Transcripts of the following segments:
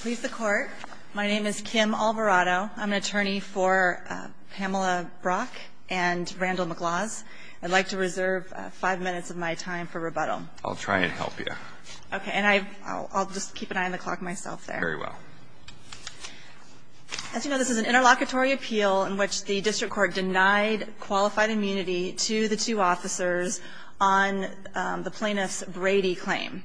Please the court. My name is Kim Alvarado. I'm an attorney for Pamela Brock and Randall McLaws. I'd like to reserve five minutes of my time for rebuttal. I'll try and help you. Okay. And I'll just keep an eye on the clock myself there. Very well. As you know, this is an interlocutory appeal in which the district court denied qualified immunity to the two officers on the plaintiff's Brady claim.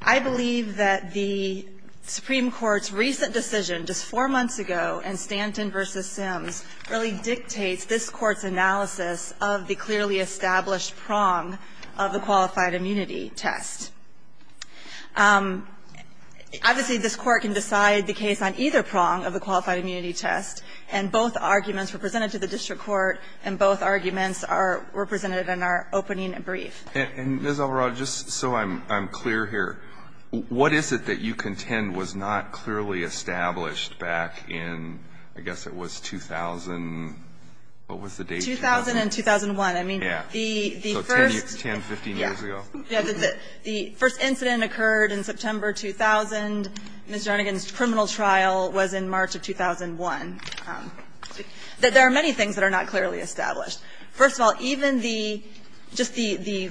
I believe that the Supreme Court's recent decision just four months ago in Stanton v. Sims really dictates this Court's analysis of the clearly established prong of the qualified immunity test. Obviously, this Court can decide the case on either prong of the qualified immunity test, and both arguments were presented to the district court, and both arguments were presented in our opening and brief. Alito And Ms. Alvarado, just so I'm clear here, what is it that you contend was not clearly established back in, I guess it was 2000, what was the date? Alvarado 2000 and 2001. Alito Yeah. So 10, 15 years ago? Alvarado Yeah. The first incident occurred in September 2000. Ms. Jernigan's criminal trial was in March of 2001. There are many things that are not clearly established. First of all, even the, just the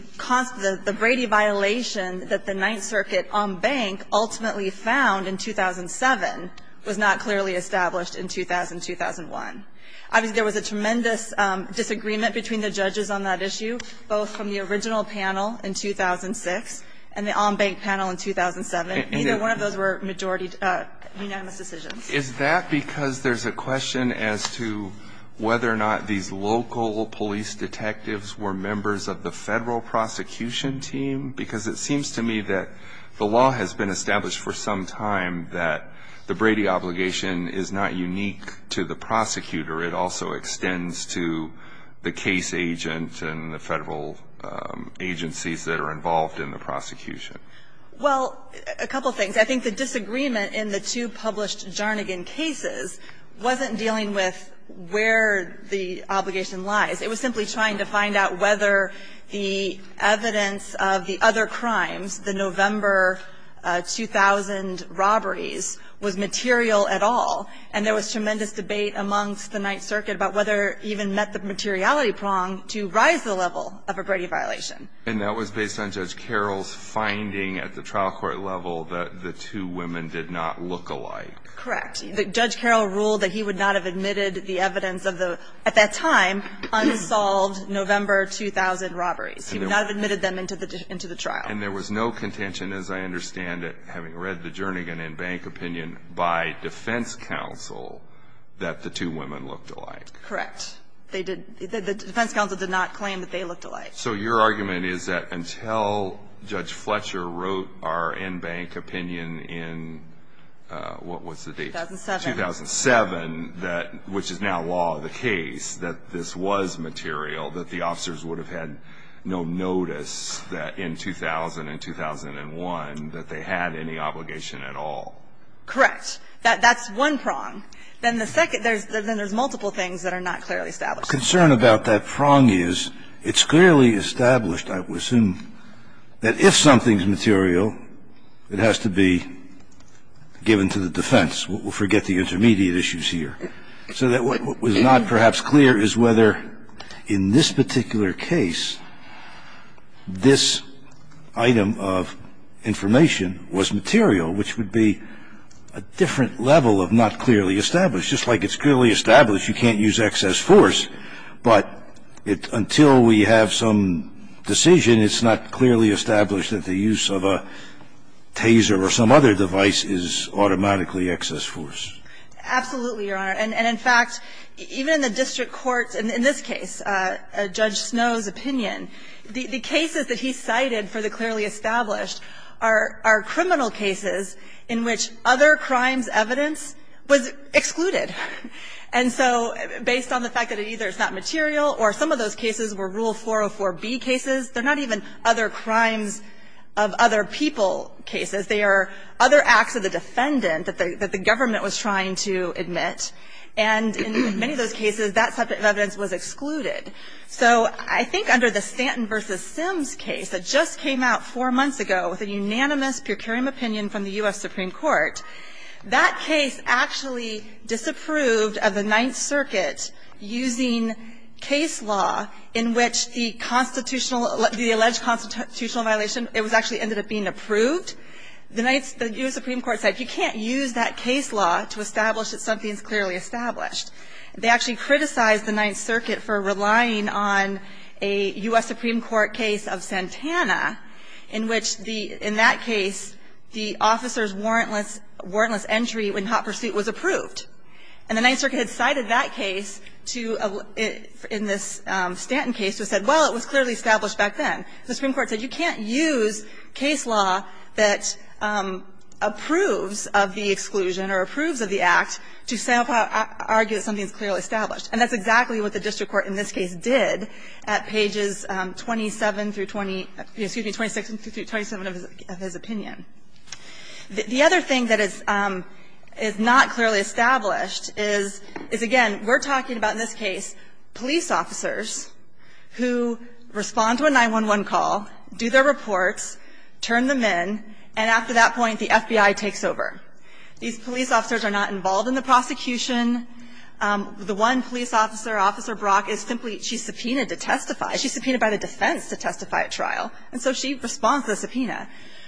Brady violation that the Ninth Circuit on bank ultimately found in 2007 was not clearly established in 2000-2001. Obviously, there was a tremendous disagreement between the judges on that issue, both from the original panel in 2006 and the on bank panel in 2007. Neither one of those were majority unanimous decisions. Alito Is that because there's a question as to whether or not these local police detectives were members of the federal prosecution team? Because it seems to me that the law has been established for some time that the Brady obligation is not unique to the prosecutor. It also extends to the case agent and the federal agencies that are involved in the prosecution. Well, a couple of things. I think the disagreement in the two published Jernigan cases wasn't dealing with where the obligation lies. It was simply trying to find out whether the evidence of the other crimes, the November 2000 robberies, was material at all. And there was tremendous debate amongst the Ninth Circuit about whether it even met the materiality prong to rise the level of a Brady violation. And that was based on Judge Carroll's finding at the trial court level that the two women did not look alike. Correct. Judge Carroll ruled that he would not have admitted the evidence of the, at that time, unsolved November 2000 robberies. He would not have admitted them into the trial. And there was no contention, as I understand it, having read the Jernigan and bank opinion by defense counsel, that the two women looked alike. Correct. The defense counsel did not claim that they looked alike. So your argument is that until Judge Fletcher wrote our in bank opinion in, what was the date? 2007. 2007, which is now law of the case, that this was material, that the officers would have had no notice that in 2000 and 2001 that they had any obligation at all. Correct. That's one prong. Then the second, then there's multiple things that are not clearly established. My concern about that prong is it's clearly established, I would assume, that if something's material, it has to be given to the defense. We'll forget the intermediate issues here. So that what was not perhaps clear is whether in this particular case this item of information was material, which would be a different level of not clearly established. So it's just like it's clearly established, you can't use excess force. But until we have some decision, it's not clearly established that the use of a taser or some other device is automatically excess force. Absolutely, Your Honor. And in fact, even in the district courts, in this case, Judge Snow's opinion, the cases that he cited for the clearly established are criminal cases in which other And so based on the fact that either it's not material or some of those cases were Rule 404B cases, they're not even other crimes of other people cases. They are other acts of the defendant that the government was trying to admit. And in many of those cases, that subject of evidence was excluded. So I think under the Stanton v. Sims case that just came out four months ago with a unanimous precarium opinion from the U.S. Supreme Court, that case actually disapproved of the Ninth Circuit using case law in which the constitutional, the alleged constitutional violation, it was actually ended up being approved. The U.S. Supreme Court said you can't use that case law to establish that something is clearly established. They actually criticized the Ninth Circuit for relying on a U.S. Supreme Court case of Santana in which the, in that case, the officer's warrantless, warrantless entry in hot pursuit was approved. And the Ninth Circuit had cited that case to, in this Stanton case, to say, well, it was clearly established back then. The Supreme Court said you can't use case law that approves of the exclusion or approves of the act to somehow argue that something is clearly established. And that's exactly what the district court in this case did at pages 27 through 20, excuse me, 26 through 27 of his opinion. The other thing that is not clearly established is, again, we're talking about in this case police officers who respond to a 911 call, do their reports, turn them in, and after that point the FBI takes over. These police officers are not involved in the prosecution. The one police officer, Officer Brock, is simply, she's subpoenaed to testify. She's subpoenaed by the defense to testify at trial. And so she responds to the subpoena.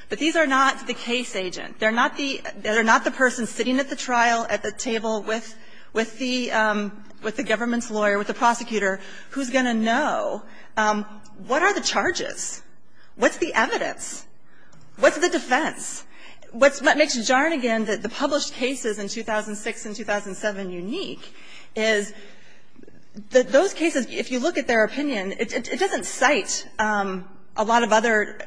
But these are not the case agent. They're not the person sitting at the trial, at the table with the government's lawyer, with the prosecutor, who's going to know what are the charges? What's the evidence? What's the defense? What makes Jarnigan, the published cases in 2006 and 2007 unique is that those cases, if you look at their opinion, it doesn't cite a lot of other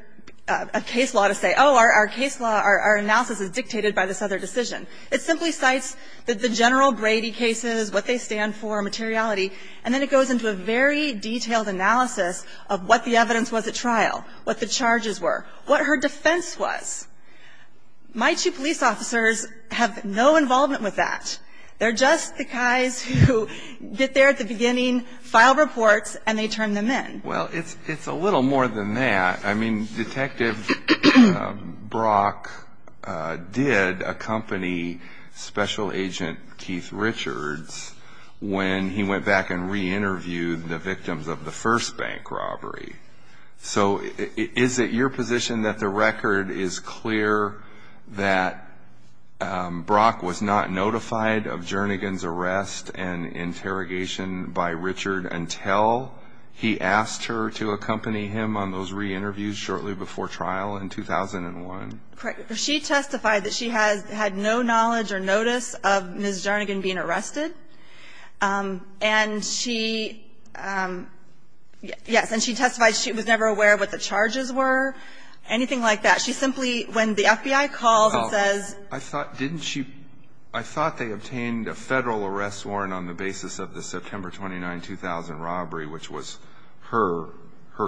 case law to say, oh, our case law, our analysis is dictated by this other decision. It simply cites the General Brady cases, what they stand for, materiality, and then it goes into a very detailed analysis of what the evidence was at trial, what the charges were, what her defense was. My two police officers have no involvement with that. They're just the guys who get there at the beginning, file reports, and they turn them in. Well, it's a little more than that. I mean, Detective Brock did accompany Special Agent Keith Richards when he went back and re-interviewed the victims of the first bank robbery. So is it your position that the record is clear that Brock was not notified of Jarnigan's arrest and interrogation by Richard until he asked her to accompany him on those re-interviews shortly before trial in 2001? Correct. She testified that she had no knowledge or notice of Ms. Jarnigan being arrested. And she yes, and she testified she was never aware of what the charges were, anything like that. She simply, when the FBI calls and says ---- Well, I thought didn't she ---- I thought they obtained a Federal arrest warrant on the basis of the September 29, 2000 robbery, which was her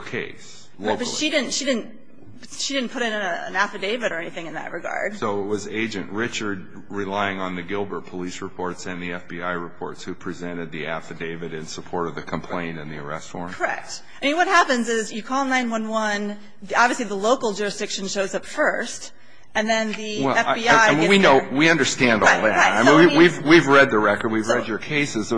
case locally. But she didn't put in an affidavit or anything in that regard. So it was Agent Richard relying on the Gilbert police reports and the FBI reports who presented the affidavit in support of the complaint and the arrest warrant? Correct. I mean, what happens is you call 911. Obviously, the local jurisdiction shows up first. And then the FBI gets there. We understand all that. We've read the record. We've read your cases.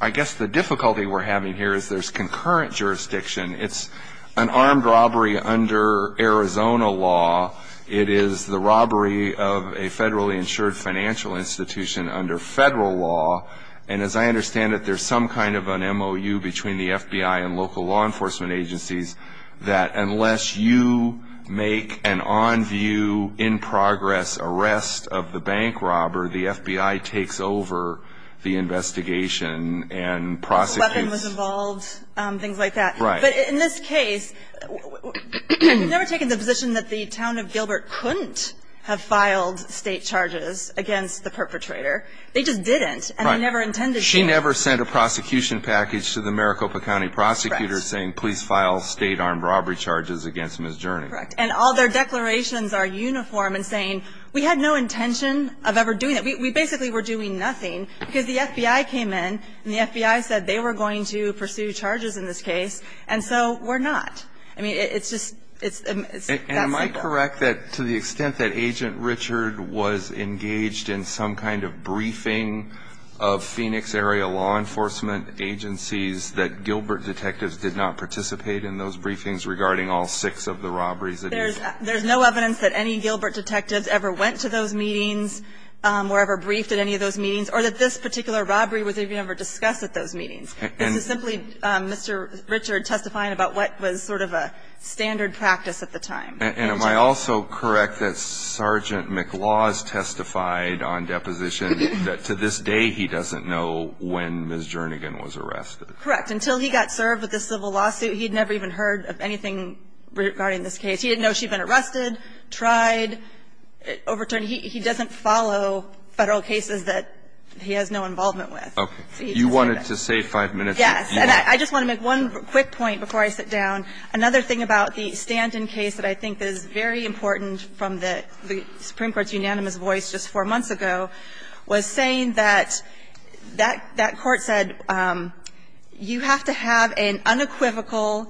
I guess the difficulty we're having here is there's concurrent jurisdiction. It's an armed robbery under Arizona law. It is the robbery of a federally insured financial institution under Federal law. And as I understand it, there's some kind of an MOU between the FBI and local law enforcement agencies that unless you make an on-view, in-progress arrest of the bank robber, the FBI takes over the investigation and prosecutes. Weapon was involved, things like that. Right. But in this case, we've never taken the position that the town of Gilbert couldn't have filed State charges against the perpetrator. They just didn't. Right. And they never intended to. She never sent a prosecution package to the Maricopa County prosecutor saying please file State armed robbery charges against Ms. Journey. Correct. And all their declarations are uniform in saying we had no intention of ever doing We basically were doing nothing because the FBI came in and the FBI said they were going to pursue charges in this case. And so we're not. I mean, it's just that simple. And am I correct that to the extent that Agent Richard was engaged in some kind of briefing of Phoenix area law enforcement agencies, that Gilbert detectives did not participate in those briefings regarding all six of the robberies? There's no evidence that any Gilbert detectives ever went to those meetings, were ever briefed at any of those meetings, or that this particular robbery was ever discussed at those meetings. This is simply Mr. Richard testifying about what was sort of a standard practice at the time. And am I also correct that Sergeant McLaws testified on deposition that to this day he doesn't know when Ms. Jernigan was arrested? Correct. Until he got served with this civil lawsuit, he had never even heard of anything regarding this case. He didn't know she had been arrested, tried, overturned. He doesn't follow Federal cases that he has no involvement with. Okay. You wanted to save five minutes. Yes. And I just want to make one quick point before I sit down. Another thing about the Stanton case that I think is very important from the Supreme Court's unanimous voice just four months ago was saying that that court said you have to have an unequivocal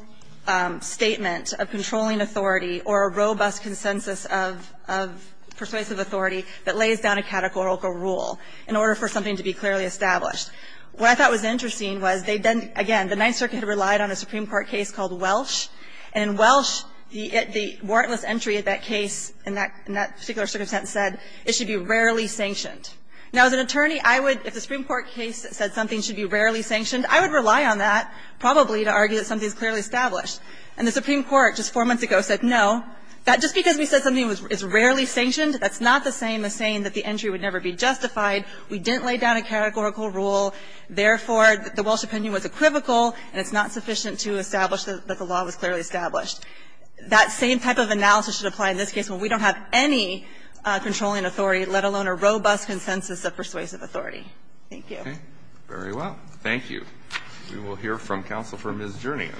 statement of controlling authority or a robust consensus of persuasive authority that lays down a categorical rule in order for something to be clearly established. What I thought was interesting was they then, again, the Ninth Circuit relied on a Supreme Court case called Welsh. And in Welsh, the warrantless entry of that case in that particular circumstance said it should be rarely sanctioned. Now, as an attorney, I would, if the Supreme Court case said something should be rarely sanctioned, I would rely on that probably to argue that something is clearly established. And the Supreme Court just four months ago said no. That just because we said something is rarely sanctioned, that's not the same as saying that the entry would never be justified. We didn't lay down a categorical rule. Therefore, the Welsh opinion was equivocal and it's not sufficient to establish that the law was clearly established. That same type of analysis should apply in this case when we don't have any controlling authority, let alone a robust consensus of persuasive authority. Thank you. Very well. Thank you. We will hear from Counsel for Ms. Jurnian.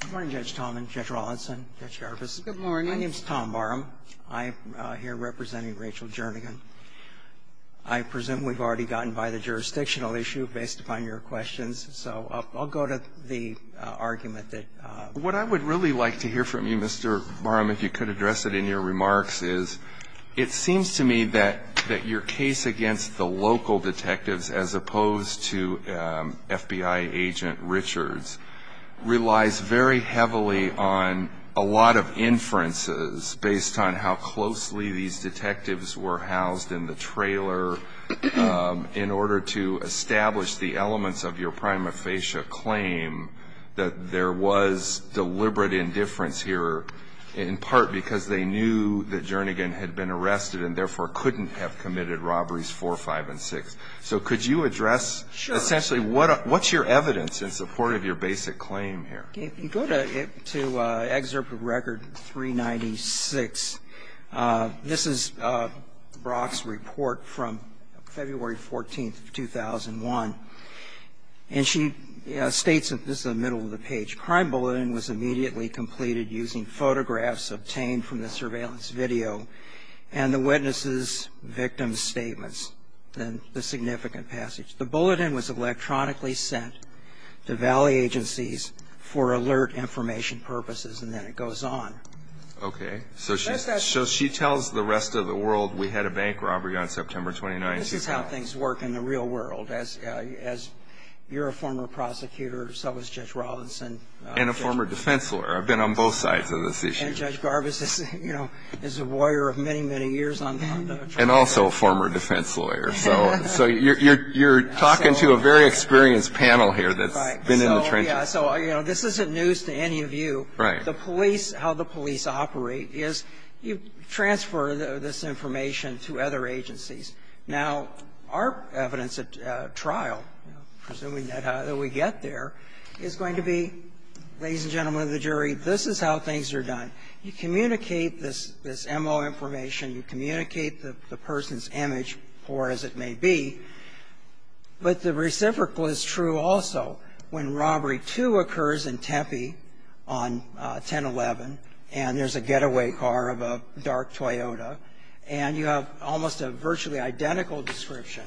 Good morning, Judge Talman, Judge Rawlinson, Judge Jarvis. Good morning. My name is Tom Barham. I'm here representing Rachel Jurnian. I presume we've already gotten by the jurisdictional issue based upon your questions. So I'll go to the argument that Ms. Jurnian raised. And I guess it in your remarks is it seems to me that your case against the local detectives as opposed to FBI agent Richards relies very heavily on a lot of inferences based on how closely these detectives were housed in the trailer in order to establish the elements of your prima facie claim that there was deliberate indifference here in part because they knew that Jernigan had been arrested and therefore couldn't have committed robberies 4, 5, and 6. So could you address essentially what's your evidence in support of your basic claim here? If you go to Excerpt of Record 396, this is Brock's report from February 14th, 2001. And she states, this is the middle of the page, Crime bulletin was immediately completed using photographs obtained from the surveillance video and the witnesses' victims' statements. Then the significant passage. The bulletin was electronically sent to valley agencies for alert information purposes and then it goes on. Okay. So she tells the rest of the world we had a bank robbery on September 29th. This is how things work in the real world. As you're a former prosecutor, so is Judge Robinson. And a former defense lawyer. I've been on both sides of this issue. And Judge Garbus is a lawyer of many, many years on the trial. And also a former defense lawyer. So you're talking to a very experienced panel here that's been in the trenches. So this isn't news to any of you. Right. The police, how the police operate is you transfer this information to other agencies. Now, our evidence at trial, presuming that we get there, is going to be, ladies and gentlemen of the jury, this is how things are done. You communicate this M.O. information. You communicate the person's image, poor as it may be. But the reciprocal is true also. When Robbery 2 occurs in Tempe on 1011 and there's a getaway car of a dark Toyota and you have almost a virtually identical description,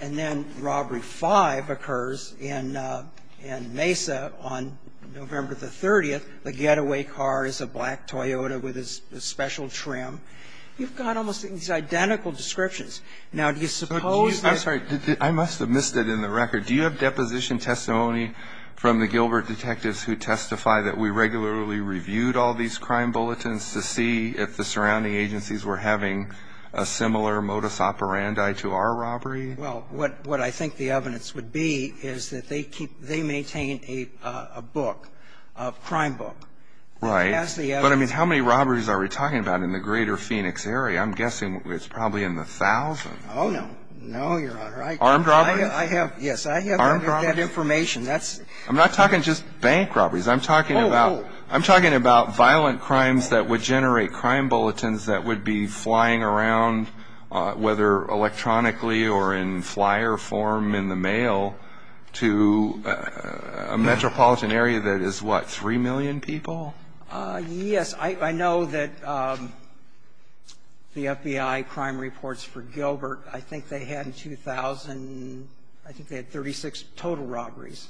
and then Robbery 5 occurs in Mesa on November the 30th, the getaway car is a black Toyota with a special trim, you've got almost these identical descriptions. Now, do you suppose that you can do that? I'm sorry. I must have missed it in the record. Do you have deposition testimony from the Gilbert detectives who testify that we regularly reviewed all these crime bulletins to see if the surrounding agencies were having a similar modus operandi to our robbery? Well, what I think the evidence would be is that they maintain a book, a crime book. Right. But I mean, how many robberies are we talking about in the greater Phoenix area? I'm guessing it's probably in the thousands. Oh, no. No, Your Honor. Armed robberies? Yes. Armed robberies? I have that information. I'm not talking just bank robberies. I'm talking about violent crimes that would generate crime bulletins that would be flying around, whether electronically or in flyer form in the mail, to a metropolitan area that is, what, 3 million people? Yes. I know that the FBI crime reports for Gilbert, I think they had 2,000, I think they had 36 total robberies,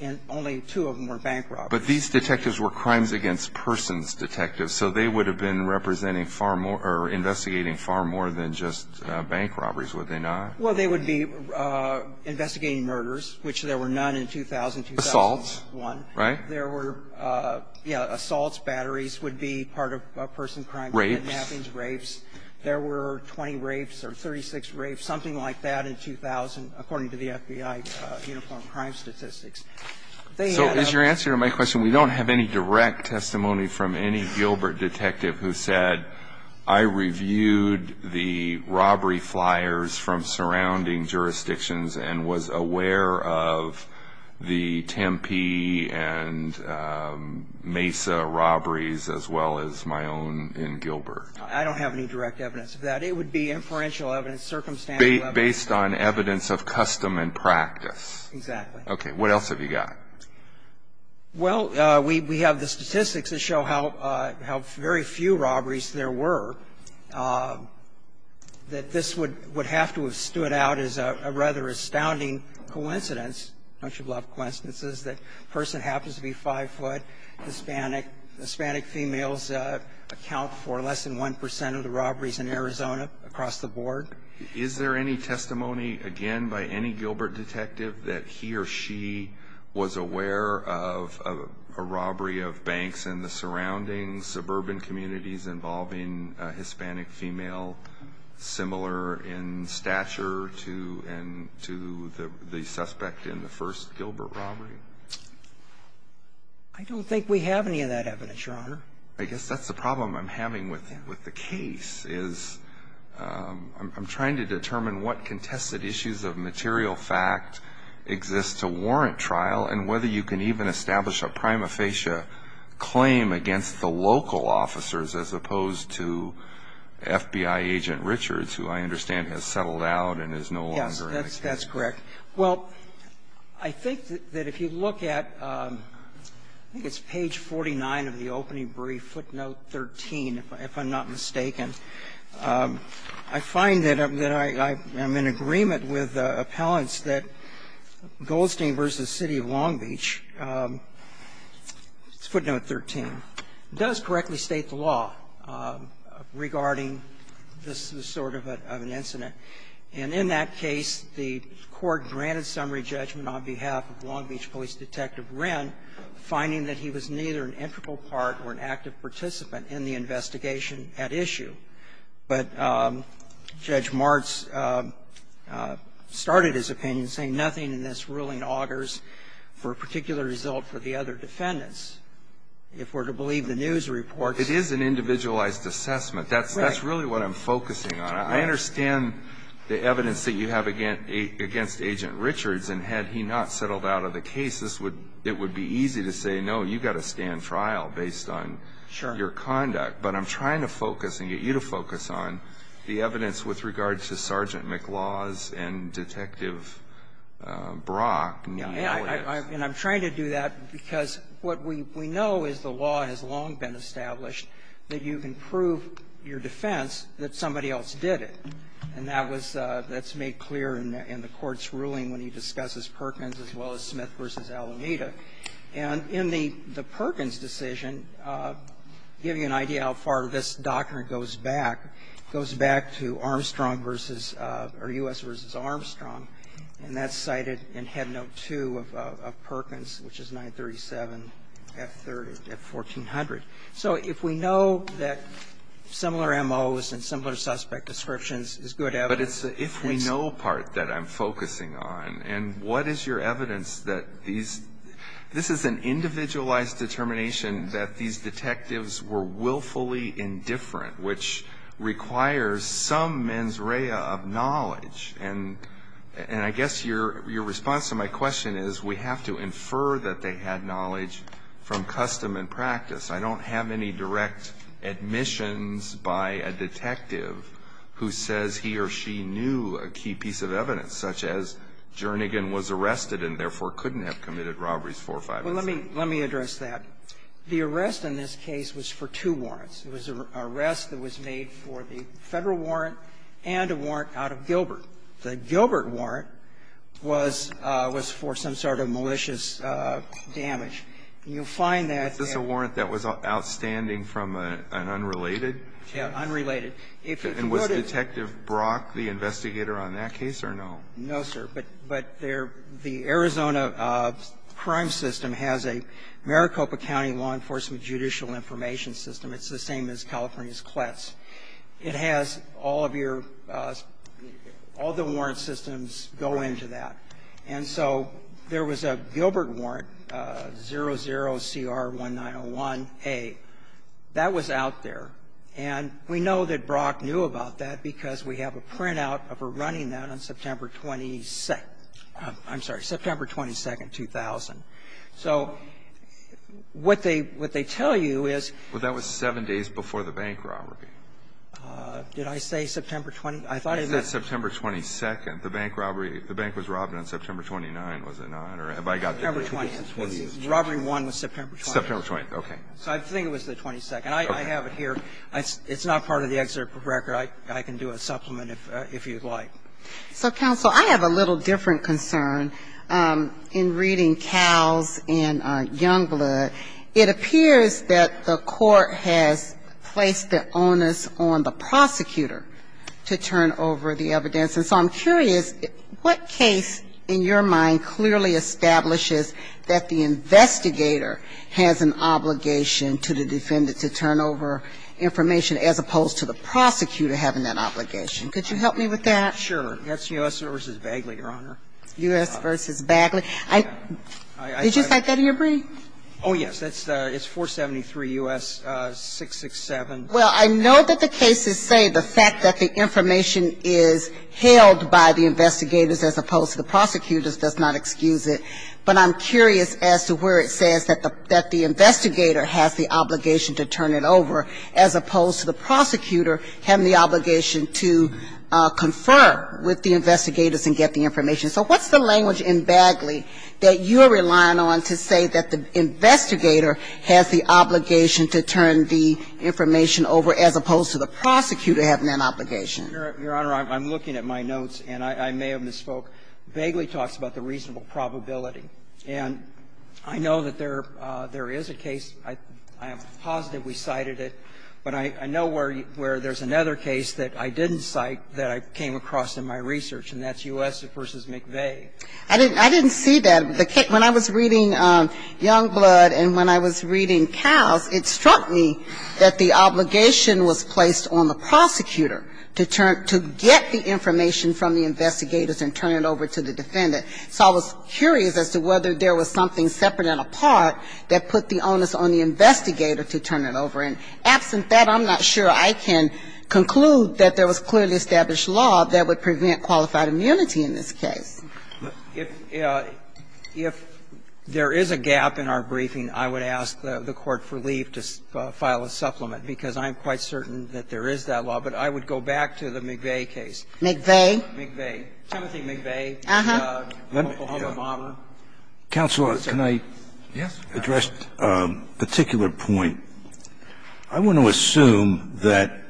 and only two of them were bank robberies. But these detectives were crimes against persons detectives, so they would have been representing far more or investigating far more than just bank robberies, would they not? Well, they would be investigating murders, which there were none in 2000, 2001. Assaults, right? There were, yeah, assaults, batteries would be part of a person's crime. Rapes? Rapes. There were 20 rapes or 36 rapes, something like that, in 2000, according to the FBI uniform crime statistics. So is your answer to my question, we don't have any direct testimony from any Gilbert detective who said, I reviewed the robbery flyers from surrounding jurisdictions and was aware of the Tempe and Mesa robberies as well as my own in Gilbert? I don't have any direct evidence of that. It would be inferential evidence, circumstantial evidence. So it would be based on evidence of custom and practice. Exactly. Okay. What else have you got? Well, we have the statistics that show how very few robberies there were, that this would have to have stood out as a rather astounding coincidence. Don't you love coincidences that a person happens to be five foot Hispanic, Hispanic females account for less than 1 percent of the robberies in Arizona across the board. Is there any testimony, again, by any Gilbert detective that he or she was aware of a robbery of banks in the surrounding suburban communities involving a Hispanic female similar in stature to the suspect in the first Gilbert robbery? I don't think we have any of that evidence, Your Honor. I guess that's the problem I'm having with the case, is I'm trying to determine what contested issues of material fact exist to warrant trial and whether you can even establish a prima facie claim against the local officers as opposed to FBI agent Richards, who I understand has settled out and is no longer in the case. Yes, that's correct. Well, I think that if you look at, I think it's page 49 of the opening brief, footnote 13, if I'm not mistaken. I find that I'm in agreement with appellants that Goldstein v. City of Long Beach, footnote 13, does correctly state the law regarding this sort of an incident. And in that case, the Court granted summary judgment on behalf of Long Beach Police Detective Wren, finding that he was neither an integral part or an active participant in the investigation at issue. But Judge Martz started his opinion saying nothing in this ruling augurs for a particular result for the other defendants. If we're to believe the news reports ---- It is an individualized assessment. Right. That's really what I'm focusing on. I understand the evidence that you have against Agent Richards, and had he not settled out of the case, this would be easy to say, no, you've got to stand trial based on your conduct. Sure. But I'm trying to focus and get you to focus on the evidence with regard to Sergeant McLaws and Detective Brock. And I'm trying to do that because what we know is the law has long been established that you can prove your defense that somebody else did it. And that was ---- that's made clear in the Court's ruling when he discusses Perkins as well as Smith v. Alameda. And in the Perkins decision, giving you an idea how far this doctrine goes back, it goes back to Armstrong v. ---- or U.S. v. Armstrong. And that's cited in Head Note 2 of Perkins, which is 937 F-1400. So if we know that similar M.O.s and similar suspect descriptions is good evidence ---- But it's the if we know part that I'm focusing on. And what is your evidence that these ---- this is an individualized determination that these detectives were willfully indifferent, which requires some mens rea of knowledge. And I guess your response to my question is we have to infer that they had knowledge from custom and practice. I don't have any direct admissions by a detective who says he or she knew a key piece of evidence, such as Jernigan was arrested and therefore couldn't have committed robberies four or five times. Well, let me address that. The arrest in this case was for two warrants. It was an arrest that was made for the Federal warrant and a warrant out of Gilbert. The Gilbert warrant was for some sort of malicious damage. And you'll find that ---- Is this a warrant that was outstanding from an unrelated case? Yes, unrelated. And was Detective Brock the investigator on that case or no? No, sir. But the Arizona crime system has a Maricopa County law enforcement judicial information system. It's the same as California's CLETS. It has all of your ---- all the warrant systems go into that. And so there was a Gilbert warrant, 00CR1901A. That was out there. And we know that Brock knew about that because we have a printout of her running that on September 22nd ---- I'm sorry, September 22nd, 2000. So what they tell you is ---- Well, that was seven days before the bank robbery. Did I say September 22nd? I thought I meant ---- You said September 22nd. The bank robbery ---- the bank was robbed on September 29th, was it not? Or have I got ---- September 20th. Robbery one was September 22nd. September 20th, okay. So I think it was the 22nd. I have it here. It's not part of the excerpt from the record. I can do a supplement if you'd like. So, counsel, I have a little different concern in reading Cowles and Youngblood. It appears that the Court has placed the onus on the prosecutor to turn over the evidence. And so I'm curious, what case in your mind clearly establishes that the investigator has an obligation to the defendant to turn over information as opposed to the prosecutor having that obligation? Could you help me with that? Sure. That's U.S. v. Bagley, Your Honor. U.S. v. Bagley. Did you cite that in your brief? Oh, yes. It's 473 U.S. 667. Well, I know that the cases say the fact that the information is held by the investigators as opposed to the prosecutors does not excuse it, but I'm curious as to where it says that the investigator has the obligation to turn it over as opposed to the prosecutor having the obligation to confer with the investigators and get the information. So what's the language in Bagley that you're relying on to say that the investigator has the obligation to turn the information over as opposed to the prosecutor having that obligation? Your Honor, I'm looking at my notes, and I may have misspoke. Bagley talks about the reasonable probability. And I know that there is a case. I am positive we cited it, but I know where there's another case that I didn't cite that I came across in my research, and that's U.S. v. McVeigh. I didn't see that. When I was reading Youngblood and when I was reading Cowes, it struck me that the obligation was placed on the prosecutor to get the information from the investigators and turn it over to the defendant. So I was curious as to whether there was something separate and apart that put the onus on the investigator to turn it over. And absent that, I'm not sure I can conclude that there was clearly established law that would prevent qualified immunity in this case. If there is a gap in our briefing, I would ask the court for leave to file a supplement, because I'm quite certain that there is that law. But I would go back to the McVeigh case. McVeigh? McVeigh. Timothy McVeigh. Uh-huh. The Oklahoma bomber. Counsel, can I address a particular point? I want to assume that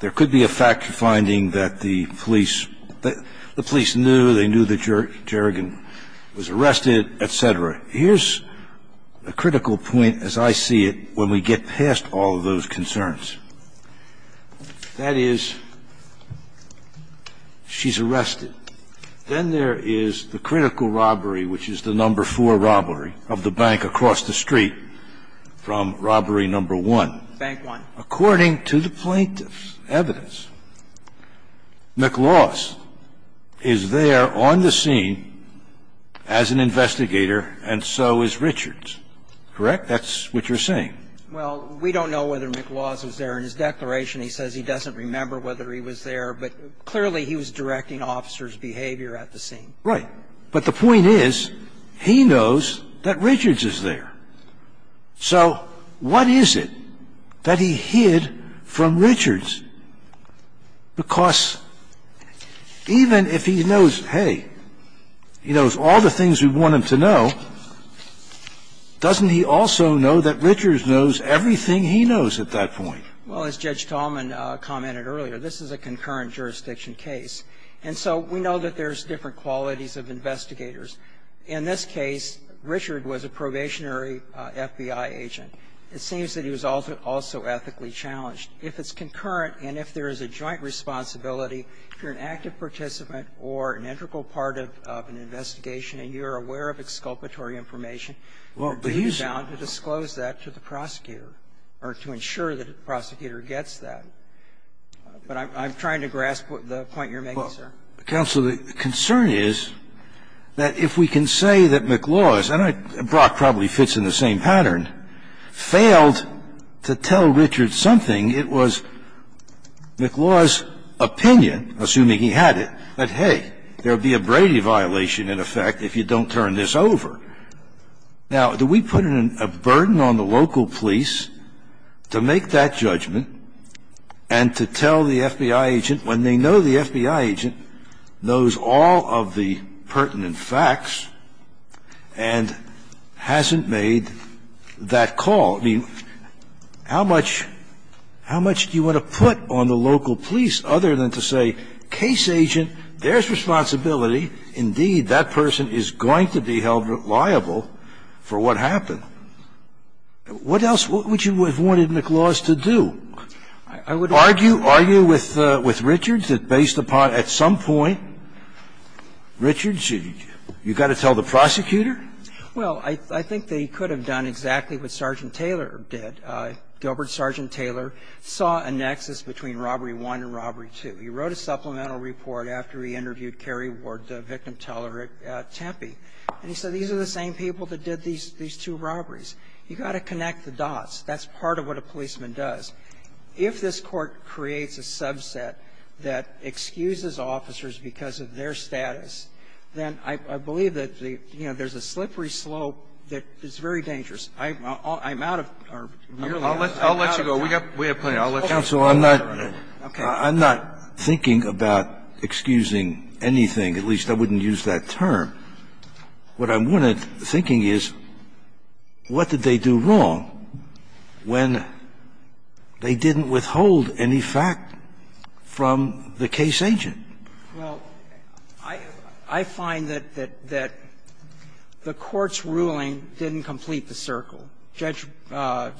there could be a fact-finding that the police knew, they knew that Jerrigan was arrested, et cetera. Here's a critical point, as I see it, when we get past all of those concerns. That is, she's arrested. Then there is the critical robbery, which is the number four robbery of the bank across the street from robbery number one. Bank one. Now, according to the plaintiff's evidence, McLaws is there on the scene as an investigator, and so is Richards. Correct? That's what you're saying. Well, we don't know whether McLaws was there in his declaration. He says he doesn't remember whether he was there, but clearly he was directing officers' behavior at the scene. Right. But the point is, he knows that Richards is there. So what is it that he hid from Richards? Because even if he knows, hey, he knows all the things we want him to know, doesn't he also know that Richards knows everything he knows at that point? Well, as Judge Tallman commented earlier, this is a concurrent jurisdiction case, and so we know that there's different qualities of investigators. In this case, Richards was a probationary FBI agent. It seems that he was also ethically challenged. If it's concurrent and if there is a joint responsibility, if you're an active participant or an integral part of an investigation and you're aware of exculpatory information, you're bound to disclose that to the prosecutor or to ensure that the prosecutor gets that. Now, counsel, the concern is that if we can say that McLaws, and Brock probably fits in the same pattern, failed to tell Richards something, it was McLaws' opinion, assuming he had it, that, hey, there would be a Brady violation, in effect, if you don't turn this over. Now, do we put a burden on the local police to make that judgment and to tell the FBI agent, when they know the FBI agent knows all of the pertinent facts and hasn't made that call? I mean, how much do you want to put on the local police other than to say, case agent, there's responsibility, indeed, that person is going to be held liable for what happened? What else would you have wanted McLaws to do? Are you with Richards that based upon, at some point, Richards, you've got to tell the prosecutor? Well, I think that he could have done exactly what Sergeant Taylor did. Gilbert Sergeant Taylor saw a nexus between Robbery 1 and Robbery 2. He wrote a supplemental report after he interviewed Kerry Ward, the victim teller at Tempe, and he said, these are the same people that did these two robberies. You've got to connect the dots. That's part of what a policeman does. If this Court creates a subset that excuses officers because of their status, then I believe that the – you know, there's a slippery slope that is very dangerous. I'm out of – I'm really out of time. I'll let you go. We have plenty. I'll let you go. Counsel, I'm not – I'm not thinking about excusing anything. At least, I wouldn't use that term. What I'm thinking is, what did they do wrong when they didn't withhold any fact from the case agent? Well, I find that the Court's ruling didn't complete the circle. Judge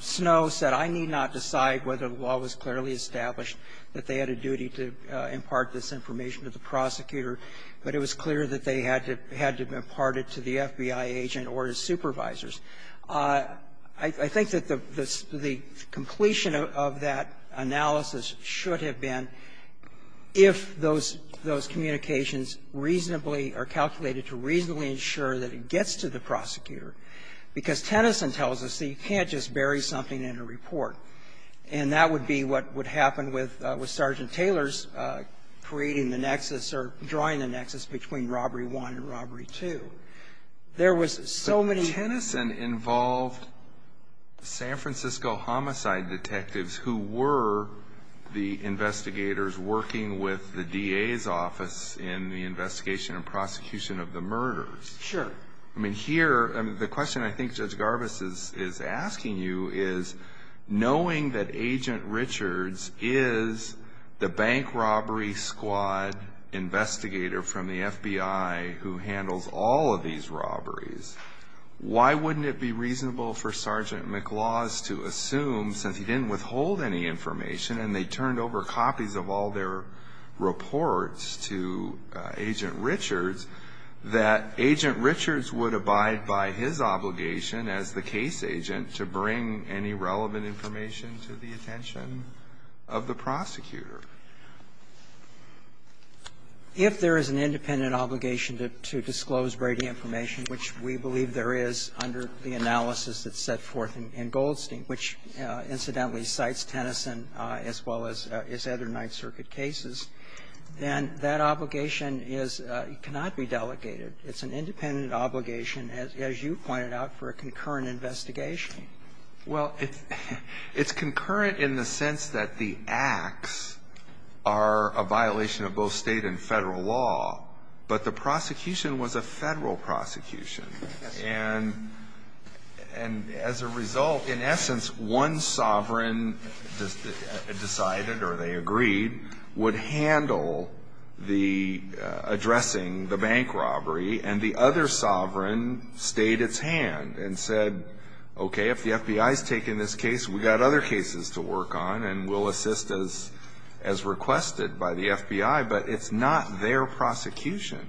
Snowe said, I need not decide whether the law was clearly established, that they had a duty to impart this information to the prosecutor, but it was clear that they had to impart it to the FBI agent or his supervisors. I think that the completion of that analysis should have been, if those communications reasonably are calculated to reasonably ensure that it gets to the prosecutor, because Tennyson tells us that you can't just bury something in a report. And that would be what would happen with Sergeant Taylor's creating the nexus or drawing the nexus between Robbery 1 and Robbery 2. There was so many – But Tennyson involved San Francisco homicide detectives who were the investigators working with the DA's office in the investigation and prosecution of the murders. Sure. I mean, here – I mean, the question I think Judge Garbus is asking you is, knowing that Agent Richards is the bank robbery squad investigator from the FBI who handles all of these robberies, why wouldn't it be reasonable for Sergeant McLaws to assume, since he didn't withhold any information and they turned over copies of all their reports to Agent Richards, that Agent Richards would abide by his obligation as the case agent to bring any relevant information to the attention of the prosecutor? If there is an independent obligation to disclose Brady information, which we believe there is under the analysis that's set forth in Goldstein, which, incidentally, cites Tennyson as well as other Ninth Circuit cases, then that obligation is – cannot be delegated. It's an independent obligation, as you pointed out, for a concurrent investigation. Well, it's concurrent in the sense that the acts are a violation of both State and Federal law, but the prosecution was a Federal prosecution. And as a result, in essence, one sovereign decided or they agreed would handle the addressing the bank robbery, and the other sovereign stayed its hand and said, okay, if the FBI is taking this case, we've got other cases to work on and we'll assist as requested by the FBI. But it's not their prosecution.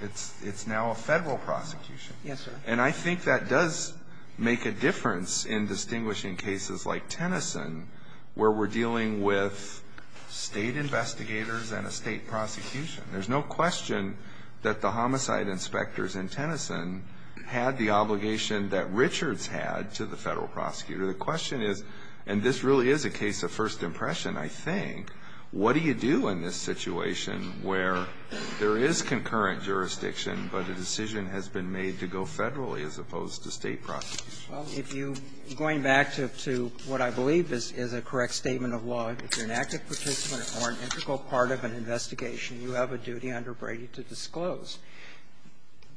It's now a Federal prosecution. Yes, sir. And I think that does make a difference in distinguishing cases like Tennyson, where we're dealing with State investigators and a State prosecution. There's no question that the homicide inspectors in Tennyson had the obligation that Richards had to the Federal prosecutor. The question is, and this really is a case of first impression, I think, what do you do in this situation where there is concurrent jurisdiction, but a decision has been made to go Federally as opposed to State prosecution? Well, if you, going back to what I believe is a correct statement of law, if you're an active participant or an integral part of an investigation, you have a duty under Brady to disclose.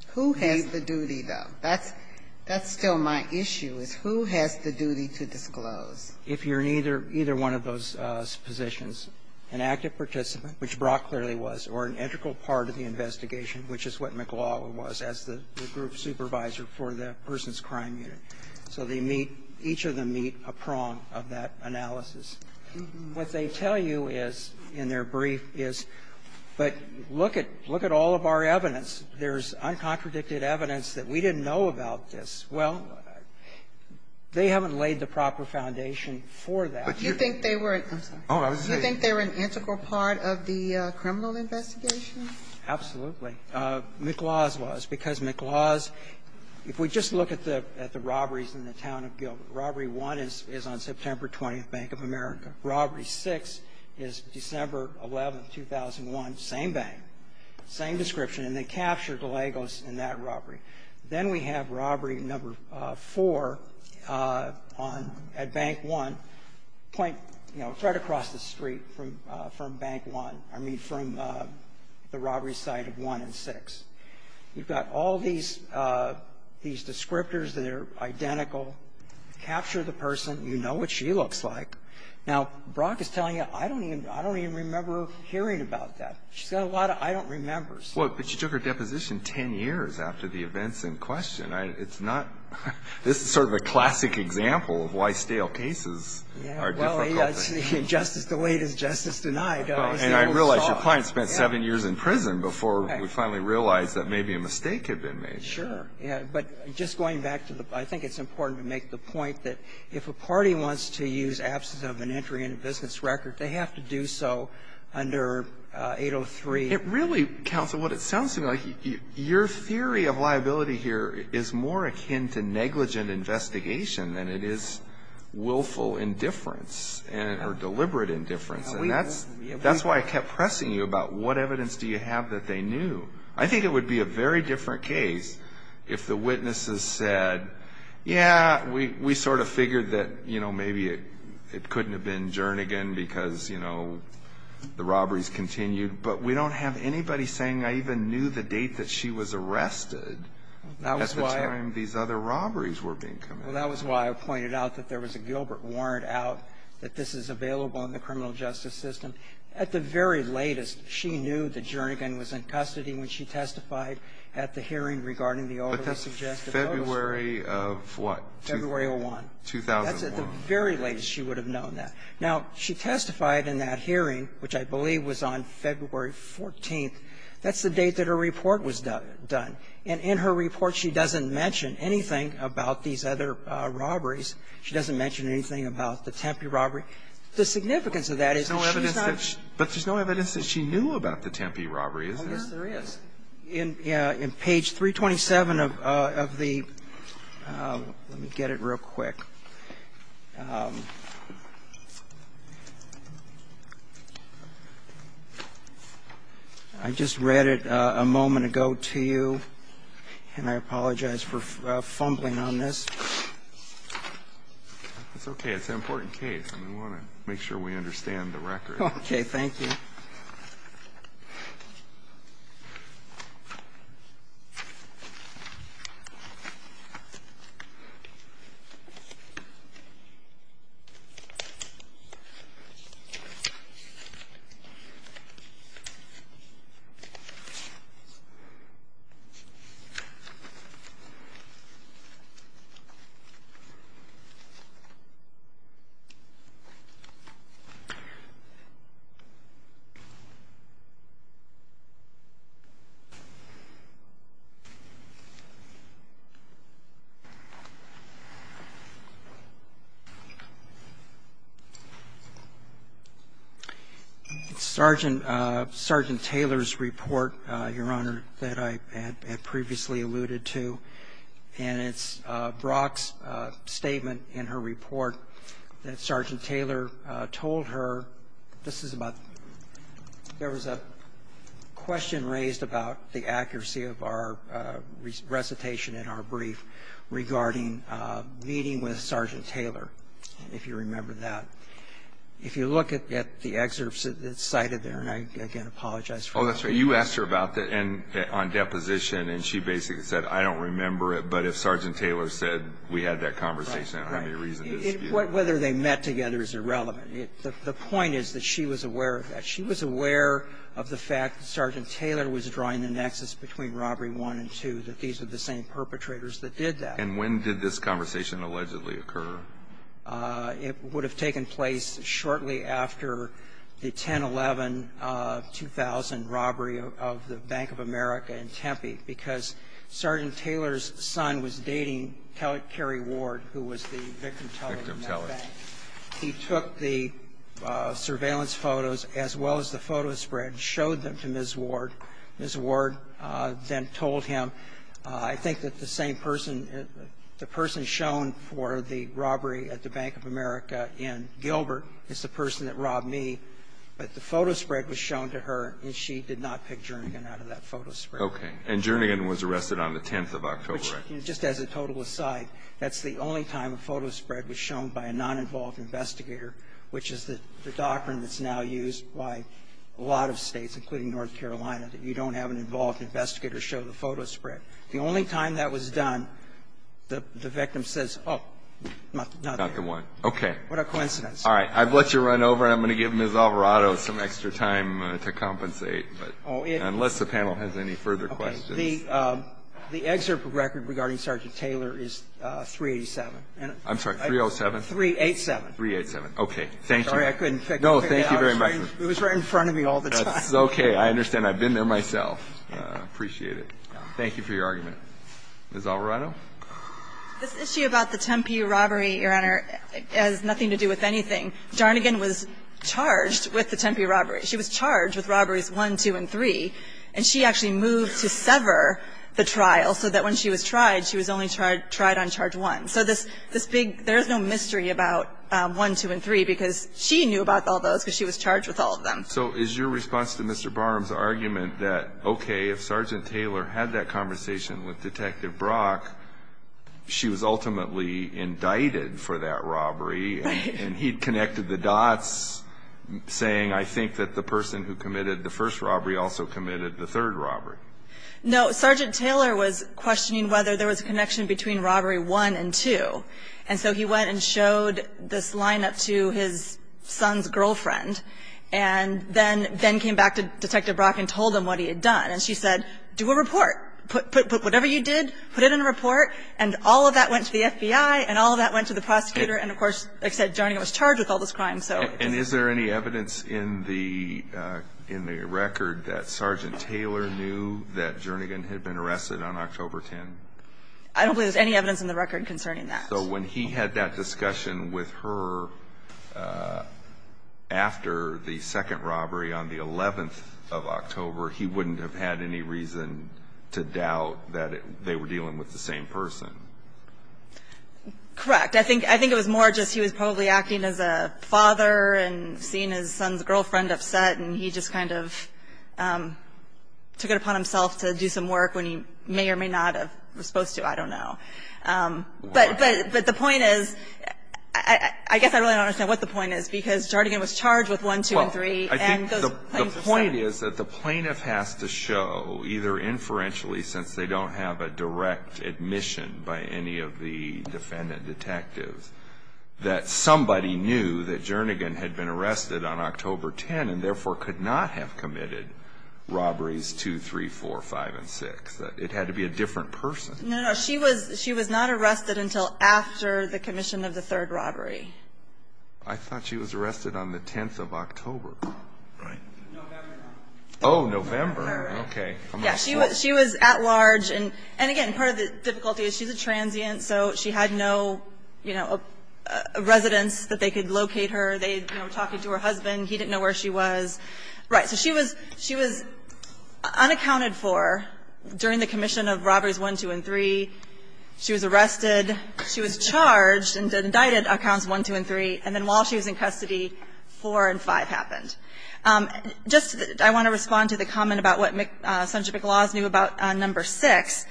Who has the duty, though? That's still my issue, is who has the duty to disclose? If you're in either one of those positions, an active participant, which Brock clearly was, or an integral part of the investigation, which is what McLaughlin was as the group supervisor for the person's crime unit. So they meet, each of them meet a prong of that analysis. What they tell you is, in their brief, is, but look at all of our evidence. There's uncontradicted evidence that we didn't know about this. Well, they haven't laid the proper foundation for that. But you think they were an integral part of the criminal investigation? Absolutely. McClaw's was, because McClaw's, if we just look at the robberies in the town of Gilbert, Robbery 1 is on September 20th, Bank of America. Robbery 6 is December 11th, 2001, same bank, same description. And they captured Lagos in that robbery. Then we have Robbery No. 4 on at Bank 1, point, you know, it's right across the street from Bank 1, I mean, from the robbery site of 1 and 6. You've got all these descriptors that are identical. Capture the person. You know what she looks like. Now, Brock is telling you, I don't even remember hearing about that. She's got a lot of I don't remembers. Well, but she took her deposition 10 years after the events in question. It's not this is sort of a classic example of why stale cases are difficult. Justice delayed is justice denied. And I realize your client spent 7 years in prison before we finally realized that maybe a mistake had been made. Sure. Yeah. But just going back to the I think it's important to make the point that if a party wants to use absence of an entry in a business record, they have to do so under 803. It really, counsel, what it sounds to me like, your theory of liability here is more deliberate indifference. And that's why I kept pressing you about what evidence do you have that they knew? I think it would be a very different case if the witnesses said, yeah, we sort of figured that maybe it couldn't have been Jernigan because the robberies continued. But we don't have anybody saying I even knew the date that she was arrested. That's the time these other robberies were being committed. Well, that was why I pointed out that there was a Gilbert warrant out that this is available in the criminal justice system. At the very latest, she knew that Jernigan was in custody when she testified at the hearing regarding the overly suggestive. February of what? February of 2001. 2001. That's at the very latest she would have known that. Now, she testified in that hearing, which I believe was on February 14th. That's the date that her report was done. And in her report, she doesn't mention anything about these other robberies. She doesn't mention anything about the Tempe robbery. The significance of that is that she's not But there's no evidence that she knew about the Tempe robbery, is there? Oh, yes, there is. In page 327 of the Let me get it real quick. I just read it a moment ago to you. And I apologize for fumbling on this. It's okay. It's an important case, and we want to make sure we understand the record. Okay. Thank you. Sergeant Taylor's report, Your Honor, that I had previously submitted to you. to. And it's Brock's statement in her report that Sergeant Taylor told her. This is about there was a question raised about the accuracy of our recitation in our brief regarding meeting with Sergeant Taylor, if you remember that. If you look at the excerpts that's cited there, and I, again, apologize. Oh, that's right. You asked her about that on deposition, and she basically said, I don't remember it, but if Sergeant Taylor said we had that conversation, I may reason to dispute. Whether they met together is irrelevant. The point is that she was aware of that. She was aware of the fact that Sergeant Taylor was drawing the nexus between Robbery 1 and 2, that these were the same perpetrators that did that. And when did this conversation allegedly occur? It would have taken place shortly after the 10-11-2000 robbery of the Bank of America in Tempe, because Sergeant Taylor's son was dating Kelly Ward, who was the victim teller in that bank. He took the surveillance photos, as well as the photo spread, showed them to Ms. Ward. Ms. Ward then told him, I think that the same person, the person shown for the robbery at the Bank of America in Gilbert is the person that robbed me. But the photo spread was shown to her, and she did not pick Jernigan out of that photo spread. Okay. And Jernigan was arrested on the 10th of October. Which, just as a total aside, that's the only time a photo spread was shown by a non-involved investigator, which is the doctrine that's now used by a lot of States, including North Carolina, that you don't have an involved investigator show the photo spread. The only time that was done, the victim says, oh, not the one. Okay. What a coincidence. All right. I've let you run over. I'm going to give Ms. Alvarado some extra time to compensate, but unless the panel has any further questions. The excerpt record regarding Sergeant Taylor is 387. I'm sorry, 307? 387. 387. Okay. Thank you. Sorry, I couldn't figure it out. No, thank you very much. It was right in front of me all the time. That's okay. I understand. I've been there myself. I appreciate it. Thank you for your argument. Ms. Alvarado. This issue about the Tempe robbery, Your Honor, has nothing to do with anything. Darnigan was charged with the Tempe robbery. She was charged with robberies 1, 2, and 3, and she actually moved to sever the trial so that when she was tried, she was only tried on charge 1. So this big – there's no mystery about 1, 2, and 3, because she knew about all those because she was charged with all of them. So is your response to Mr. Barham's argument that, okay, if Sergeant Taylor had that conversation with Detective Brock, she was ultimately indicted for that robbery, and he'd connected the dots, saying, I think that the person who committed the first robbery also committed the third robbery? No. Sergeant Taylor was questioning whether there was a connection between robbery 1 and 2. And so he went and showed this lineup to his son's girlfriend, and then came back to Detective Brock and told him what he had done, and she said, do a report. Whatever you did, put it in a report, and all of that went to the FBI, and all of that went to the prosecutor, and of course, like I said, Darnigan was charged with all this crime. And is there any evidence in the record that Sergeant Taylor knew that Darnigan had been arrested on October 10? I don't believe there's any evidence in the record concerning that. So when he had that discussion with her after the second robbery on the 11th of October, he wouldn't have had any reason to doubt that they were dealing with the same person? Correct. I think it was more just he was probably acting as a father and seeing his son's girlfriend upset, and he just kind of took it upon himself to do some work when he may or may not have been supposed to. I don't know. But the point is, I guess I really don't understand what the point is, because Darnigan was charged with 1, 2, and 3, and those plaintiffs said it. Well, I think the point is that the plaintiff has to show, either inferentially since they don't have a direct admission by any of the defendant detectives, that somebody knew that Darnigan had been arrested on October 10, and therefore could not have committed robberies 2, 3, 4, 5, and 6. It had to be a different person. No, no. She was not arrested until after the commission of the third robbery. I thought she was arrested on the 10th of October. Right. November. Oh, November. All right. Okay. Yeah. She was at large. And again, part of the difficulty is she's a transient, so she had no, you know, residence that they could locate her. They were talking to her husband. He didn't know where she was. Right. So she was unaccounted for during the commission of robberies 1, 2, and 3. She was arrested. She was charged and indicted on counts 1, 2, and 3. And then while she was in custody, 4 and 5 happened. Just I want to respond to the comment about what Senator McLaws knew about number 6.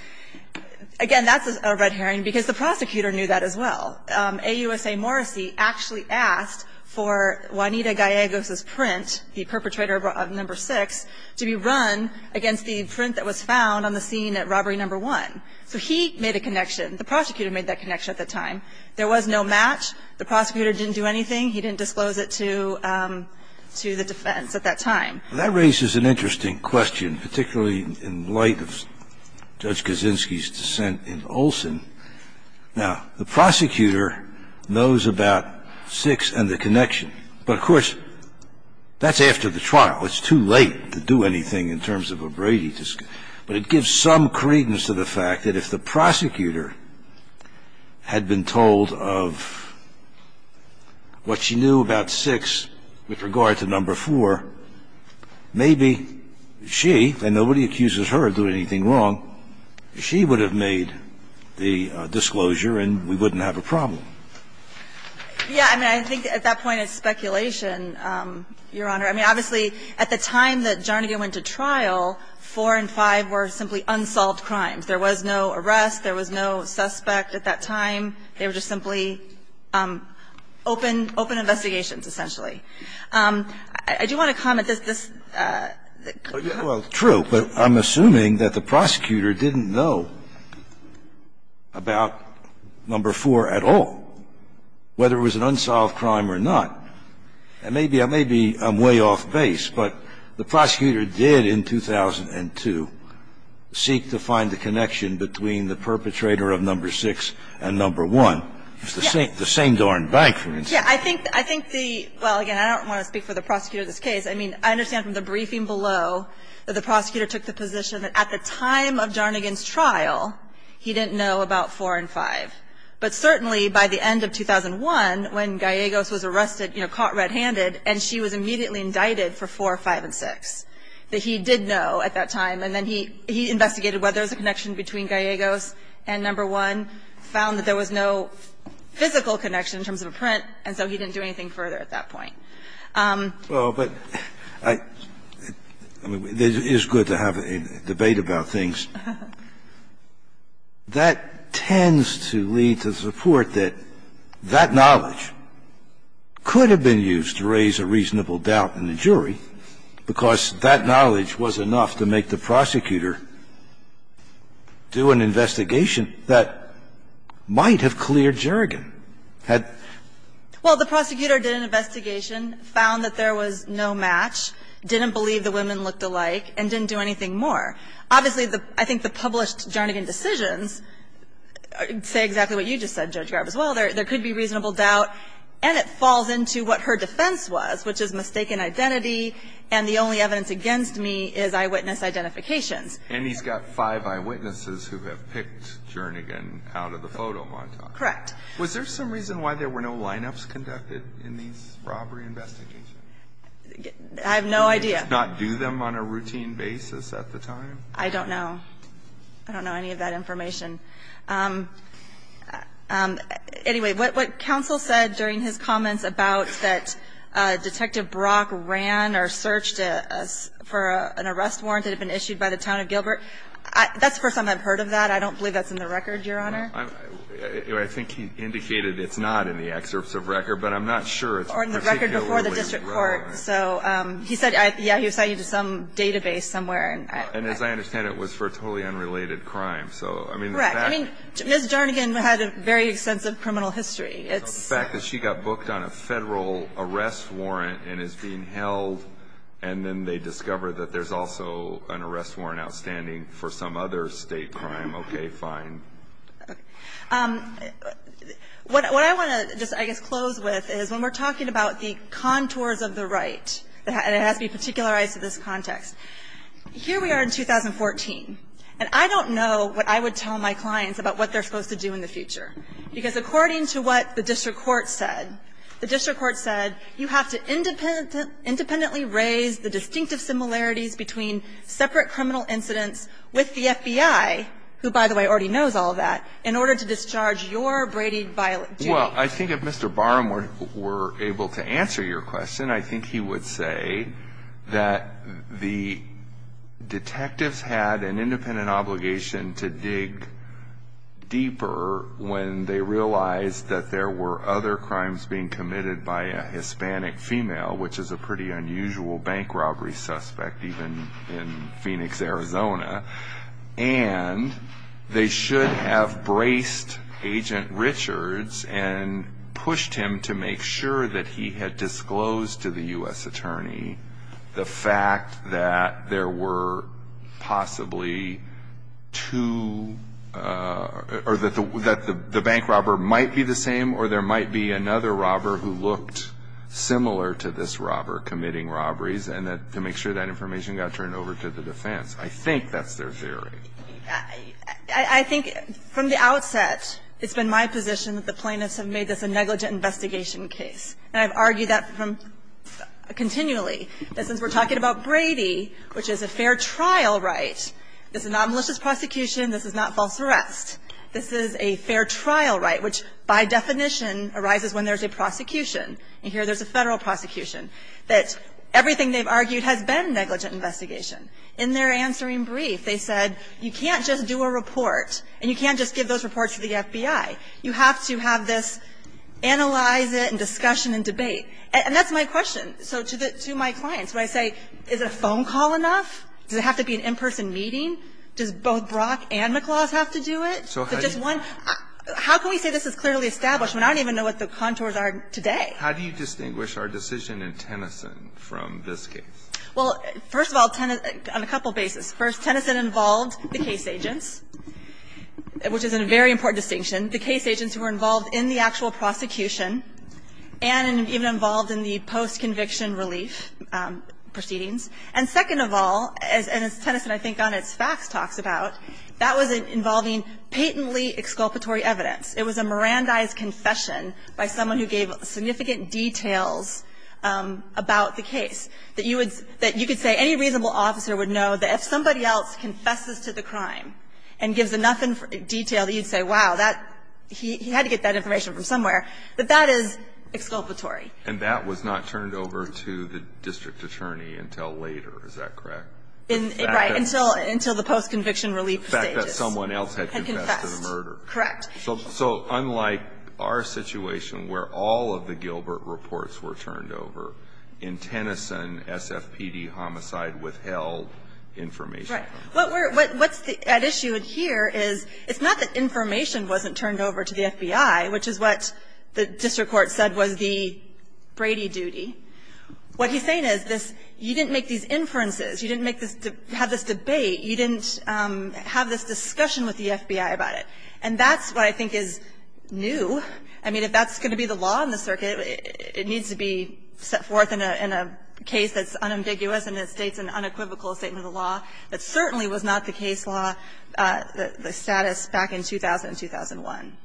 Again, that's a red herring, because the prosecutor knew that as well. And then there was a connection. The prosecutor knew that it was a connection, and that's why, in the case of AUSA Morrissey, he actually asked for Juanita Gallegos's print, the perpetrator of number 6, to be run against the print that was found on the scene at robbery number 1. So he made a connection. The prosecutor made that connection at the time. There was no match. The prosecutor didn't do anything. He didn't disclose it to the defense at that time. That raises an interesting question, particularly in light of Judge Kaczynski's dissent in Olson. Now, the prosecutor knows about 6 and the connection. But, of course, that's after the trial. It's too late to do anything in terms of a Brady discussion. But it gives some credence to the fact that if the prosecutor had been told of what she knew about 6 with regard to number 4, maybe she, and nobody accuses her of doing anything wrong, she would have made the disclosure and we wouldn't have a problem. Yeah. I mean, I think at that point it's speculation, Your Honor. I mean, obviously, at the time that Jarnigan went to trial, 4 and 5 were simply unsolved crimes. There was no arrest. There was no suspect at that time. They were just simply open, open investigations, essentially. I do want to comment that this, that this could be true. But I'm assuming that the prosecutor didn't know about number 4 at all, whether it was an unsolved crime or not. And maybe I'm way off base, but the prosecutor did in 2002 seek to find the connection between the perpetrator of number 6 and number 1, the St. Doren Bank, for instance. Yeah. I think the – well, again, I don't want to speak for the prosecutor of this case. I mean, I understand from the briefing below that the prosecutor took the position that at the time of Jarnigan's trial, he didn't know about 4 and 5. But certainly by the end of 2001, when Gallegos was arrested, you know, caught red-handed, and she was immediately indicted for 4, 5, and 6, that he did know at that time. And then he investigated whether there was a connection between Gallegos and number 1, found that there was no physical connection in terms of a print, and so he didn't do anything further at that point. Well, but I – I mean, it is good to have a debate about things. That tends to lead to the support that that knowledge could have been used to raise a reasonable doubt in the jury, because that knowledge was enough to make the prosecutor do an investigation that might have cleared Jarnigan. Had – Well, the prosecutor did an investigation, found that there was no match, didn't believe the women looked alike, and didn't do anything more. Obviously, I think the published Jarnigan decisions say exactly what you just said, Judge Garib, as well. There could be reasonable doubt, and it falls into what her defense was, which is mistaken identity, and the only evidence against me is eyewitness identifications. And he's got five eyewitnesses who have picked Jarnigan out of the photo montage. Correct. Was there some reason why there were no lineups conducted in these robbery investigations? I have no idea. Did they just not do them on a routine basis at the time? I don't know. I don't know any of that information. Anyway, what counsel said during his comments about that Detective Brock ran or searched for an arrest warrant that had been issued by the town of Gilbert, that's the first time I've heard of that. I don't believe that's in the record, Your Honor. I think he indicated it's not in the excerpts of record, but I'm not sure. Or in the record before the district court. So he said, yeah, he assigned you to some database somewhere. And as I understand it, it was for a totally unrelated crime. So I mean, the fact Correct. I mean, Ms. Jarnigan had a very extensive criminal history. It's The fact that she got booked on a Federal arrest warrant and is being held, and then they discover that there's also an arrest warrant outstanding for some other State crime. Okay. Fine. What I want to just, I guess, close with is when we're talking about the contours of the right, and it has to be particularized to this context, here we are in 2014. And I don't know what I would tell my clients about what they're supposed to do in the future. Because according to what the district court said, the district court said, you have to independently raise the distinctive similarities between separate criminal incidents with the FBI, who, by the way, already knows all of that, in order to discharge your Brady violent duty. Well, I think if Mr. Barham were able to answer your question, I think he would say that the detectives had an independent obligation to dig deeper when they realized that there were other crimes being committed by a Hispanic female, which is a pretty unusual bank robbery suspect, even in Phoenix, Arizona. And they should have braced Agent Richards and pushed him to make sure that he had disclosed to the U.S. attorney the fact that there were possibly two, or that the bank robber might be the same, or there might be another robber who looked similar to this robber committing robberies, and to make sure that information got turned over to the defense. I think that's their theory. I think from the outset, it's been my position that the plaintiffs have made this a negligent investigation case. And I've argued that from – continually, that since we're talking about Brady, which is a fair trial right, this is not a malicious prosecution, this is not false arrest. This is a fair trial right, which by definition arises when there's a prosecution. And here there's a Federal prosecution. That everything they've argued has been negligent investigation. In their answering brief, they said, you can't just do a report, and you can't just give those reports to the FBI. You have to have this analyze it and discussion and debate. And that's my question. So to the – to my clients, when I say, is a phone call enough? Does it have to be an in-person meeting? Does both Brock and McClaw's have to do it? So just one – how can we say this is clearly established when I don't even know what the contours are today? How do you distinguish our decision in Tennyson from this case? Well, first of all, on a couple of bases. First, Tennyson involved the case agents, which is a very important distinction. The case agents who were involved in the actual prosecution and even involved in the post-conviction relief proceedings. And second of all, and as Tennyson I think on its facts talks about, that was involving patently exculpatory evidence. It was a Mirandized confession by someone who gave significant details about the case, that you would – that you could say any reasonable officer would know that if somebody else confesses to the crime and gives enough detail that you'd say, wow, that – he had to get that information from somewhere, that that is exculpatory. And that was not turned over to the district attorney until later, is that correct? Right. Until the post-conviction relief stages. The fact that someone else had confessed to the murder. Correct. So unlike our situation where all of the Gilbert reports were turned over, in Tennyson, SFPD homicide withheld information. Right. What's at issue here is it's not that information wasn't turned over to the FBI, which is what the district court said was the Brady duty. What he's saying is this – you didn't make these inferences. You didn't make this – have this debate. You didn't have this discussion with the FBI about it. And that's what I think is new. I mean, if that's going to be the law in the circuit, it needs to be set forth in a case that's unambiguous and that states an unequivocal statement of the law that certainly was not the case law, the status back in 2000 and 2001.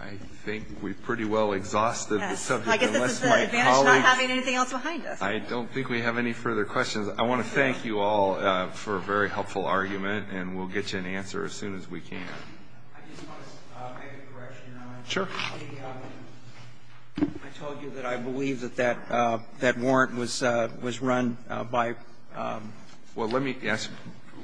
I think we pretty well exhausted the subject. Yes. I guess this is the advantage of not having anything else behind us. I don't think we have any further questions. I want to thank you all for a very helpful argument, and we'll get you an answer as soon as we can. I just want to make a correction. Sure. I told you that I believe that that warrant was run by – Well, let me ask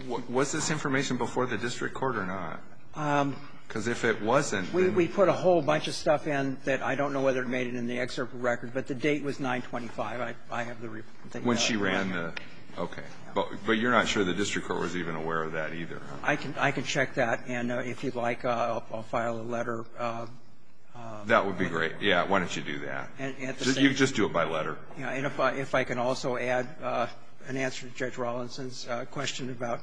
you. Was this information before the district court or not? Because if it wasn't, then – We put a whole bunch of stuff in that I don't know whether it made it in the excerpt record, but the date was 925. I have the – When she ran the – okay. But you're not sure the district court was even aware of that either. I can check that. And if you'd like, I'll file a letter. That would be great. Yes. Why don't you do that? You can just do it by letter. And if I can also add an answer to Judge Rawlinson's question about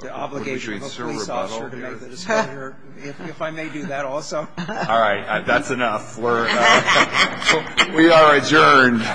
the obligation of a police officer to make the disclosure, if I may do that also. All right. That's enough. We are adjourned.